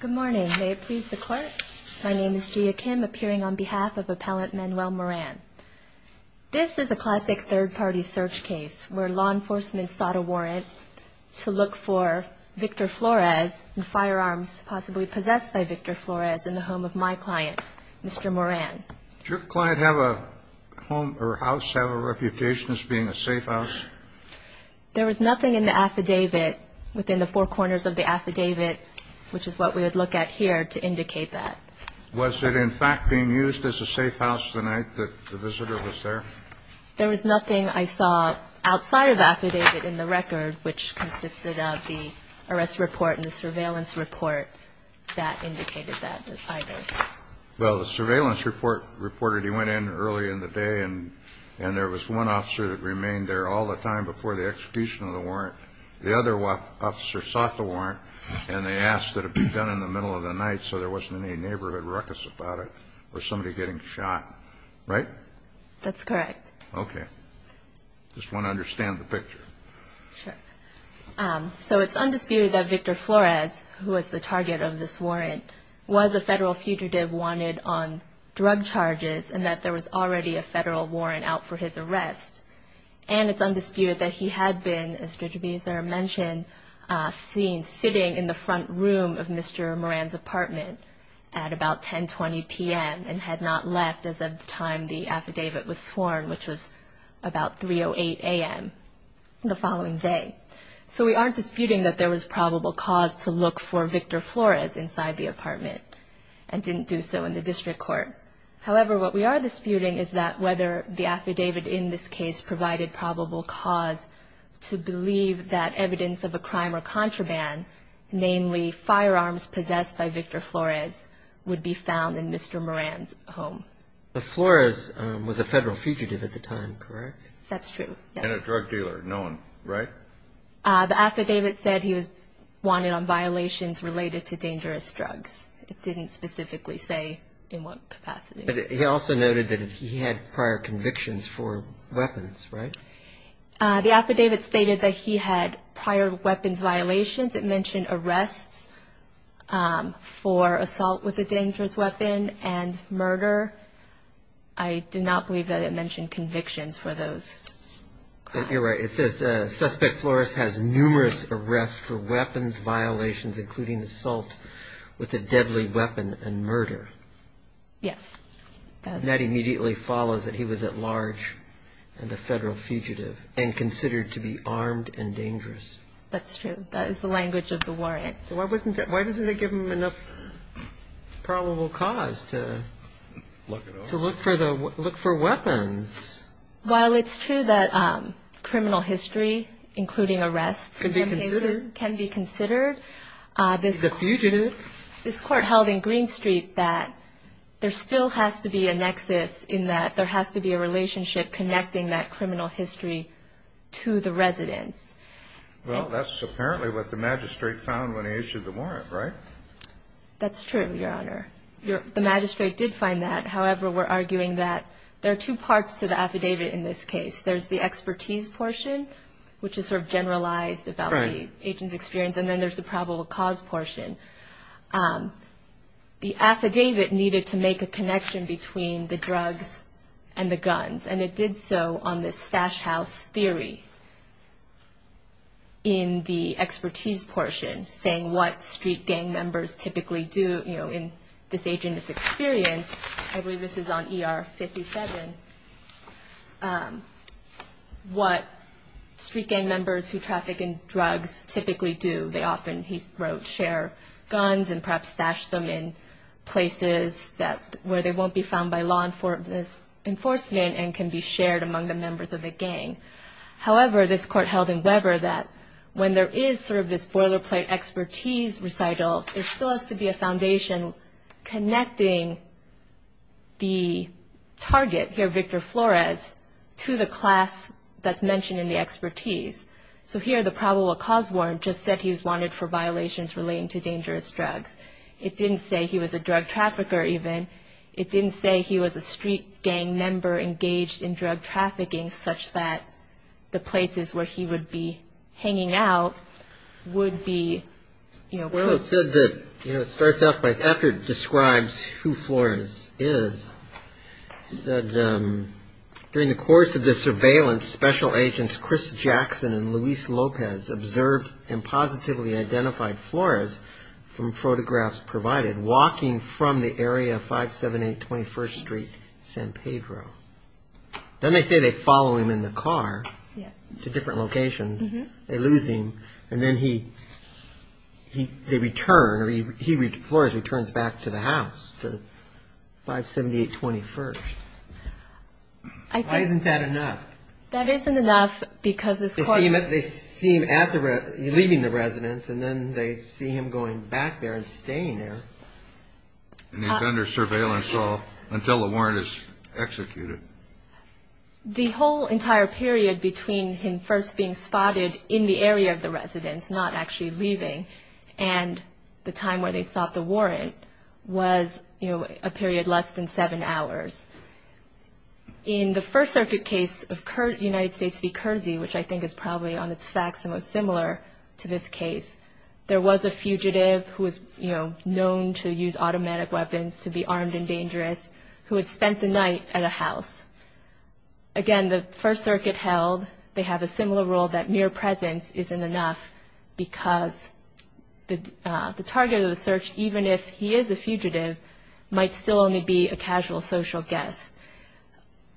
Good morning may it please the court my name is Gia Kim appearing on behalf of appellant Manuel Moran. This is a classic third-party search case where law enforcement sought a warrant to look for Victor Flores and firearms possibly possessed by Victor Flores in the home of my client Mr. Moran. Does your client have a home or house have a reputation as being a safe house? There was nothing in the record that we would look at here to indicate that. Was it in fact being used as a safe house the night that the visitor was there? There was nothing I saw outside of affidavit in the record which consisted of the arrest report and the surveillance report that indicated that either. Well the surveillance report reported he went in early in the day and and there was one officer that remained there all the time before the execution of the neighborhood ruckus about it or somebody getting shot right? That's correct. Ok just want to understand the picture. So it's undisputed that Victor Flores who was the target of this warrant was a federal fugitive wanted on drug charges and that there was already a federal warrant out for his arrest and it's undisputed that he had been as Judge Beazer mentioned seen sitting in the Mr. Moran's apartment at about 10 20 p.m. and had not left as of the time the affidavit was sworn which was about 3 o 8 a.m. the following day. So we aren't disputing that there was probable cause to look for Victor Flores inside the apartment and didn't do so in the district court. However what we are disputing is that whether the affidavit in this case provided probable cause to by Victor Flores would be found in Mr. Moran's home. The Flores was a federal fugitive at the time correct? That's true. And a drug dealer known right? The affidavit said he was wanted on violations related to dangerous drugs. It didn't specifically say in what capacity. He also noted that he had prior convictions for weapons right? The affidavit stated that he had prior weapons violations. It mentioned arrests for assault with a dangerous weapon and murder. I do not believe that it mentioned convictions for those. You're right. It says suspect Flores has numerous arrests for weapons violations including assault with a deadly weapon and murder. Yes. That immediately follows that he was at large and the federal fugitive and considered to be armed and dangerous. That's true. That is the language of the warrant. Why wasn't that? Why doesn't that give him enough probable cause to look for weapons? While it's true that criminal history including arrests can be considered. It's a fugitive. This court held in Green Street that there still has to be a nexus in that there has to be a relationship connecting that criminal history to the residence. Well that's apparently what the magistrate found when he issued the warrant right? That's true your honor. The magistrate did find that however we're arguing that there are two parts to the affidavit in this case. There's the expertise portion which is sort of generalized about the agent's experience and then there's the probable cause portion. The affidavit needed to make a connection between the drugs and the guns and it did so on this stash house theory in the expertise portion saying what street gang members typically do you know in this agent's experience. I believe this is on ER 57. What street gang members who traffic in drugs typically do they often he's wrote share guns and perhaps stash them in places that where they won't be found by law enforcement and can be shared among the members of the gang. However this court held in Weber that when there is sort of this boilerplate expertise recital there still has to be a foundation connecting the target here Victor Flores to the class that's mentioned in the expertise. So here the probable cause warrant just said he was wanted for violations relating to dangerous drugs. It didn't say he was a drug trafficker even. It didn't say he was a street gang member engaged in drug trafficking such that the places where he would be hanging out would be you know. Well it said that you know it starts off by after it describes who Flores is said during the course of the surveillance special agents Chris Jackson and Luis Lopez observed and positively identified Flores from photographs provided walking from the area of 578 21st Street San Pedro. Then they say they follow him in the car to different locations. They lose him and then he he they return or he Flores returns back to the house to 578 21st. Why isn't that enough? That isn't enough because they see him leaving the residence and then they see him going back there and staying there. And he's under surveillance until the warrant is executed. The whole entire period between him first being spotted in the area of the warrant was you know a period less than seven hours. In the First Circuit case of current United States v. Kersey, which I think is probably on its facts the most similar to this case, there was a fugitive who was you know known to use automatic weapons to be armed and dangerous who had spent the night at a house. Again the First Circuit held they have a similar rule that mere presence isn't enough because the target of the search, even if he is a fugitive, might still only be a casual social guest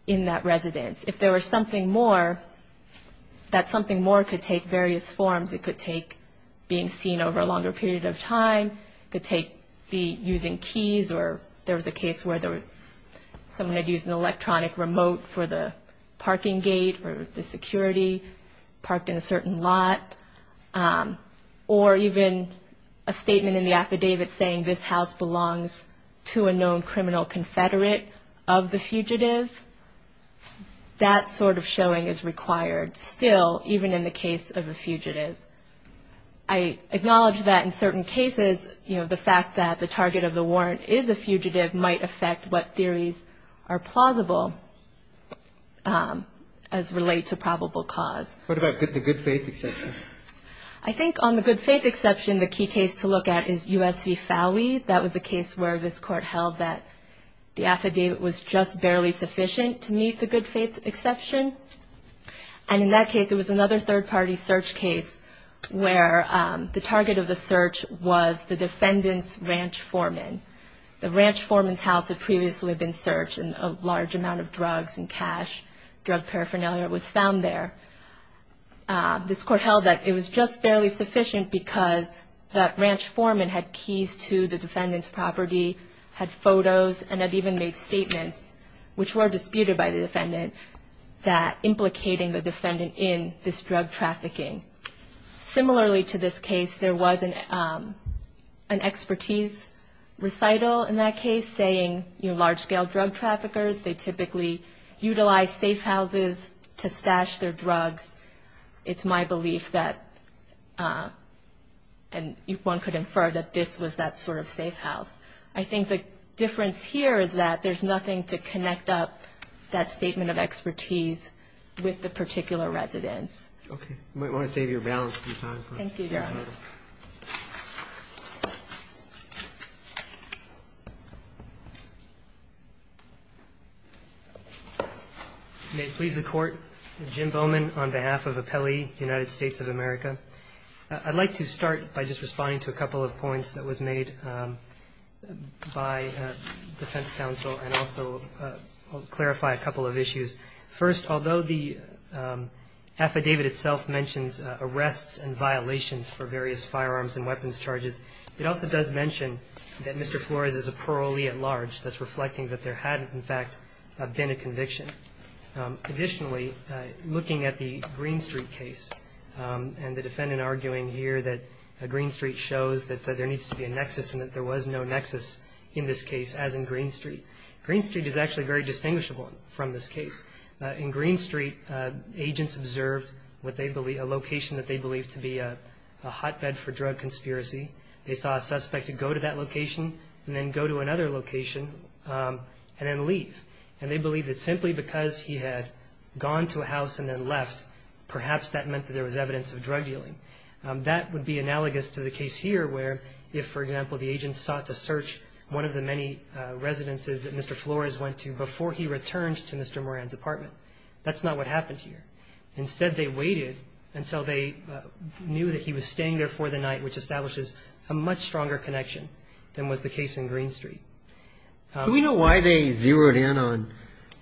in that residence. If there was something more, that something more could take various forms. It could take being seen over a longer period of time, could take be using keys or there was a case where someone had used an electronic remote for the parking gate or the or even a statement in the affidavit saying this house belongs to a known criminal confederate of the fugitive. That sort of showing is required still even in the case of a fugitive. I acknowledge that in certain cases you know the fact that the target of the warrant is a fugitive might affect what I think on the good faith exception the key case to look at is US v. Fowey. That was a case where this court held that the affidavit was just barely sufficient to meet the good faith exception and in that case it was another third-party search case where the target of the search was the defendant's ranch foreman. The ranch foreman's house had previously been searched and a large amount of that it was just barely sufficient because that ranch foreman had keys to the defendant's property, had photos and had even made statements which were disputed by the defendant that implicating the defendant in this drug trafficking. Similarly to this case there was an expertise recital in that case saying you know large-scale drug traffickers they typically utilize safe houses to stash their drugs. It's my belief that and if one could infer that this was that sort of safe house. I think the difference here is that there's nothing to connect up that statement of expertise with the particular residence. May it please the court. Jim Bowman on behalf of Appellee United States of America. I'd like to start by just responding to a couple of points that was made by defense counsel and also clarify a couple of issues. First although the affidavit itself mentions arrests and violations for various firearms and weapons charges. It also does mention that Mr. Flores is a parolee at large that's reflecting that there hadn't in fact been a conviction. Additionally looking at the Green Street case and the defendant arguing here that Green Street shows that there needs to be a nexus and that there was no nexus in this case as in Green Street. Green Street is actually very distinguishable from this case. In Green Street agents observed what they believe a location that they believe to be a hotbed for drug conspiracy. They saw a suspect to go to that location and then go to another location and then leave and they believe that simply because he had gone to a house and then left perhaps that meant that there was evidence of drug dealing. That would be analogous to the case here where if for example the agents sought to search one of the many residences that Mr. Flores went to before he returned to Mr. Moran's apartment. That's not what happened here. Instead they waited until they knew that he was staying there for the night which establishes a much stronger connection than was the case in Green Street. Do we know why they zeroed in on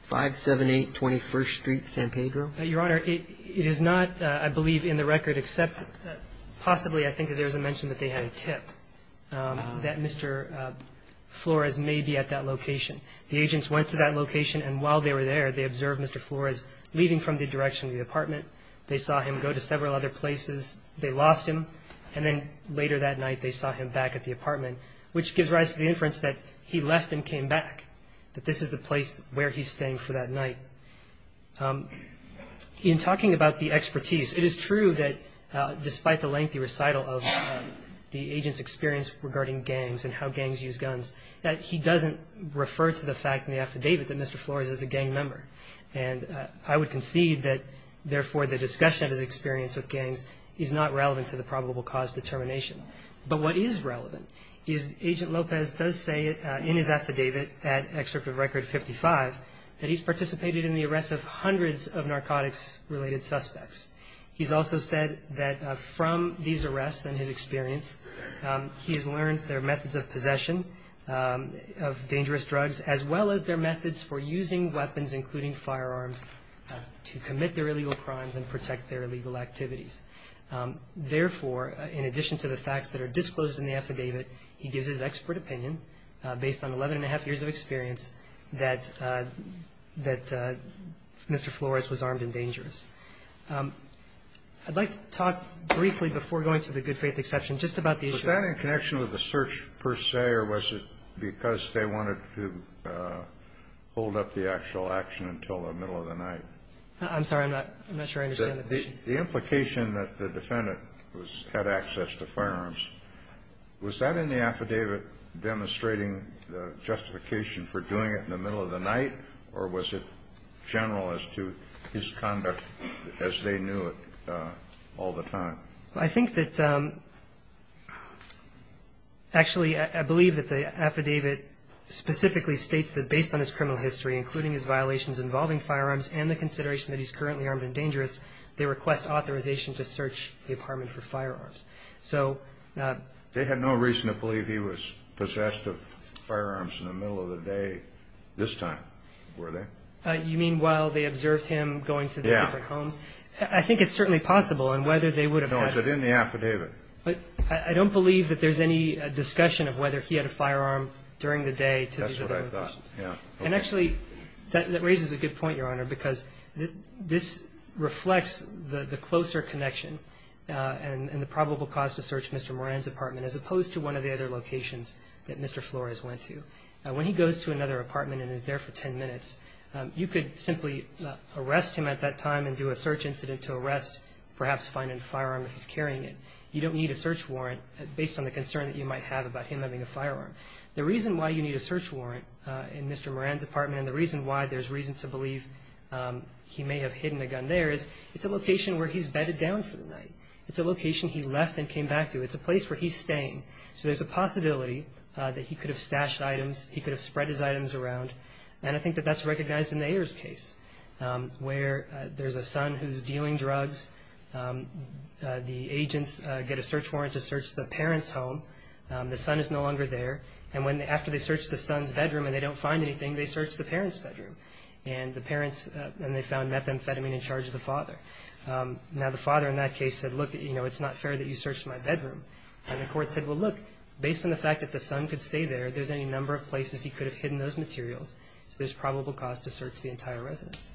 578 21st Street San Pedro? Your Honor it is not I believe in the record except possibly I think there's a mention that they had a tip that Mr. Flores may be at that location. The agents went to that location and while they were there they observed Mr. Flores leaving from the direction of the apartment. They saw him go to several other places. They lost him and then later that night they saw him back at the apartment which gives rise to the inference that he left and came back. That this is the place where he's staying for that night. In talking about the expertise it is true that despite the lengthy recital of the agent's experience regarding gangs and how gangs use guns that he doesn't refer to the fact in the affidavit that Mr. Flores is a gang member and I would concede that therefore the discussion of his experience with gangs is not relevant to the probable cause determination. But what is relevant is Agent Lopez does say in his affidavit at Excerpt of Record 55 that he's participated in the arrest of hundreds of narcotics related suspects. He's also said that from these arrests and his experience he has learned their methods of possession of dangerous drugs as well as their methods for using weapons including firearms to commit their illegal crimes and protect their illegal activities. Therefore in addition to the facts that are disclosed in the affidavit he gives his expert opinion based on 11 and a half years of I'd like to talk briefly before going to the good faith exception just about the issue Was that in connection with the search per se or was it because they wanted to hold up the actual action until the middle of the night? I'm sorry. I'm not sure I understand the question. The implication that the defendant had access to firearms, was that in the affidavit demonstrating the justification for doing it in the middle of the night or was it general as to his conduct as they knew it all the time? I think that actually I believe that the affidavit specifically states that based on his criminal history including his violations involving firearms and the consideration that he's currently armed and dangerous, they request authorization to search the apartment for firearms. So They had no reason to believe he was possessed of firearms in the middle of the day this time, were they? You mean while they observed him going to the different homes? I think it's certainly possible and whether they would have had No, is it in the affidavit? I don't believe that there's any discussion of whether he had a firearm during the day to these other locations. That's what I thought. And actually that raises a good point, Your Honor, because this reflects the closer connection and the probable cause to search Mr. Moran's apartment as opposed to one of the other locations that Mr. Flores went to. When he goes to another apartment and is there for 10 minutes, you could simply arrest him at that time and do a search incident to arrest, perhaps find a firearm if he's carrying it. You don't need a search warrant based on the concern that you might have about him having a firearm. The reason why you need a search warrant in Mr. Moran's apartment and the reason why there's reason to believe he may have hidden a gun there is it's a location where he's bedded down for the night. It's a location he left and came back to. It's a place where he's staying. So there's a possibility that he could have stashed items, he could have spread his items around, and I think that that's recognized in the Ayers case where there's a son who's dealing drugs. The agents get a search warrant to search the parents' home. The son is no longer there, and after they search the son's bedroom and they don't find anything, they search the parents' bedroom, and they found methamphetamine in charge of the father. Now the father in that case said, look, it's not fair that you search my bedroom. And the court said, well, look, based on the fact that the son could stay there, there's any number of places he could have hidden those materials. So there's probable cause to search the entire residence.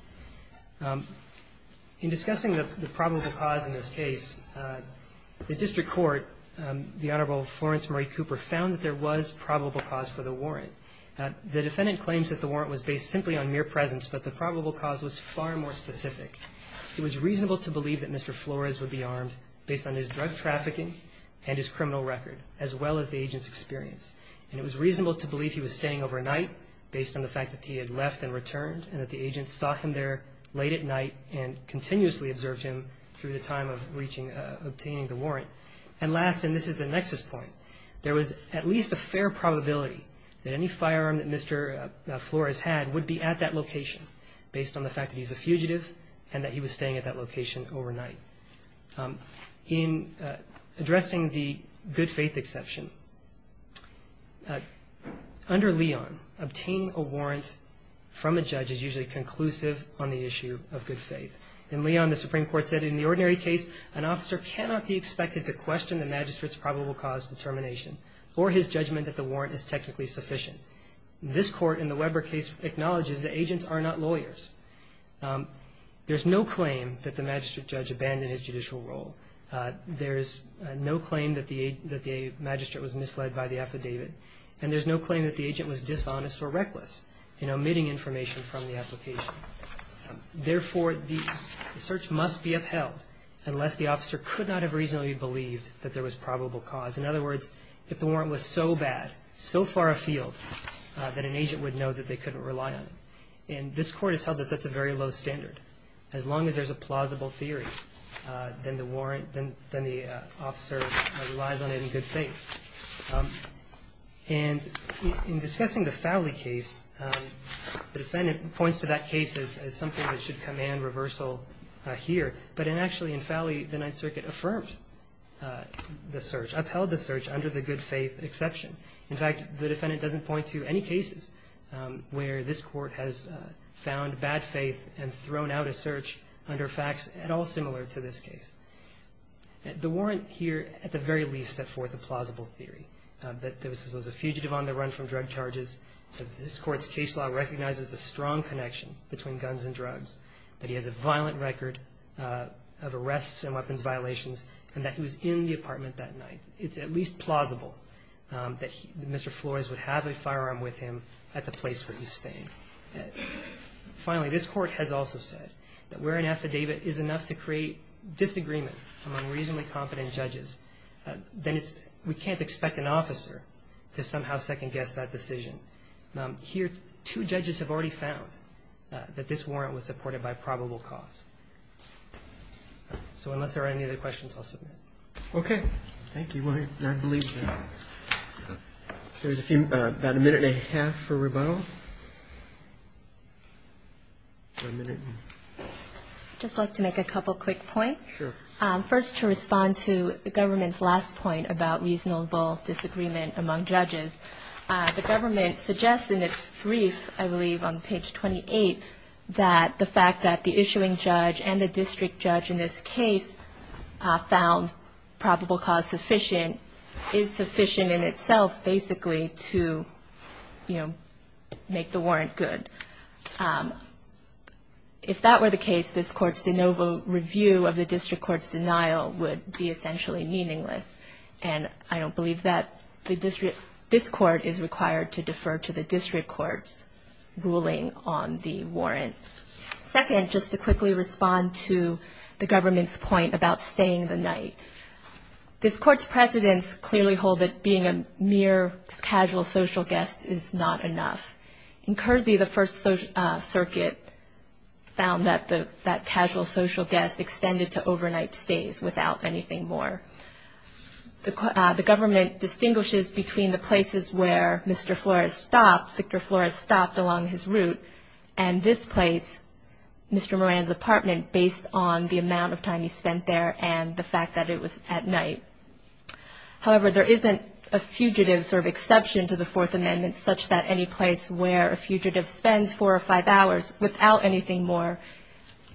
In discussing the probable cause in this case, the district court, the Honorable Florence Marie Cooper, found that there was probable cause for the warrant. The defendant claims that the warrant was based simply on mere presence, but the probable cause was far more specific. It was reasonable to believe that Mr. Flores would be armed based on his drug trafficking and his criminal record, as well as the agent's experience. And it was reasonable to believe he was staying overnight based on the fact that he had left and returned, and that the agents saw him there late at night and continuously observed him through the time of obtaining the warrant. And last, and this is the nexus point, there was at least a fair probability that any firearm that Mr. Flores had would be at that location based on the fact that he's a fugitive and that he was staying at that location overnight. In addressing the good faith exception, under Leon, obtaining a warrant from a judge is usually conclusive on the issue of good faith. In Leon, the Supreme Court said, in the ordinary case, an officer cannot be expected to question the magistrate's probable cause determination or his judgment that the warrant is technically sufficient. This court, in the Weber case, acknowledges that agents are not lawyers. There's no claim that the magistrate judge abandoned his judicial role. There's no claim that the magistrate was misled by the affidavit. And there's no claim that the agent was dishonest or reckless in omitting information from the application. Therefore, the search must be upheld unless the officer could not have reasonably believed that there was probable cause. In other words, if the warrant was so bad, so far afield, that an agent would know that they couldn't rely on him. And this court has held that that's a very low standard. As long as there's a plausible theory, then the warrant, then the officer relies on it in good faith. And in discussing the Fowley case, the defendant points to that case as something that should command reversal here. But actually, in Fowley, the Ninth Circuit affirmed the search, upheld the search under the good faith exception. In fact, the defendant doesn't point to any cases where this court has found bad faith and thrown out a search under facts at all similar to this case. The warrant here, at the very least, set forth a plausible theory that there was a fugitive on the run from drug charges, that this court's case law recognizes the strong connection between guns and drugs, that he has a violent record of arrests and weapons violations, and that he was in the apartment that night. It's at least plausible that Mr. Flores would have a firearm with him at the place where he stayed. Finally, this court has also said that where an affidavit is enough to create disagreement among reasonably competent judges, then we can't expect an officer to somehow second-guess that decision. Here, two judges have already found that this warrant was supported by probable cause. So unless there are any other questions, I'll submit. Okay. Thank you. Well, I believe there's about a minute and a half for rebuttal. I'd just like to make a couple quick points. Sure. First, to respond to the government's last point about reasonable disagreement among judges. The government suggests in its brief, I believe on page 28, that the fact that the issuing judge and the district judge in this case found probable cause sufficient is sufficient in itself, basically, to make the warrant good. If that were the case, this court's de novo review of the district court's denial would be essentially meaningless. And I don't believe that this court is required to defer to the district court's ruling on the warrant. Second, just to quickly respond to the government's point about staying the night. This court's precedents clearly hold that being a mere casual social guest is not enough. In Kersey, the First Circuit found that casual social guest extended to overnight stays without anything more. The government distinguishes between the places where Mr. Flores stopped, Victor Flores stopped along his route, and this place, Mr. Moran's apartment, based on the amount of time he spent there and the fact that it was at night. However, there isn't a fugitive sort of exception to the Fourth Amendment such that any place where a fugitive spends four or five hours without anything more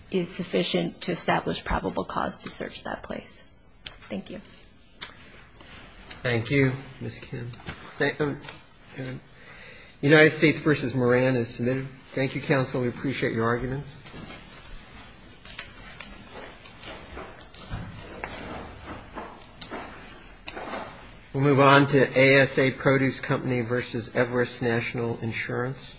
is sufficient to establish probable cause to search that place. Thank you. Thank you, Ms. Kim. United States v. Moran is submitted. Thank you, counsel. We appreciate your arguments. We'll move on to ASA Produce Company v. Everest National Insurance.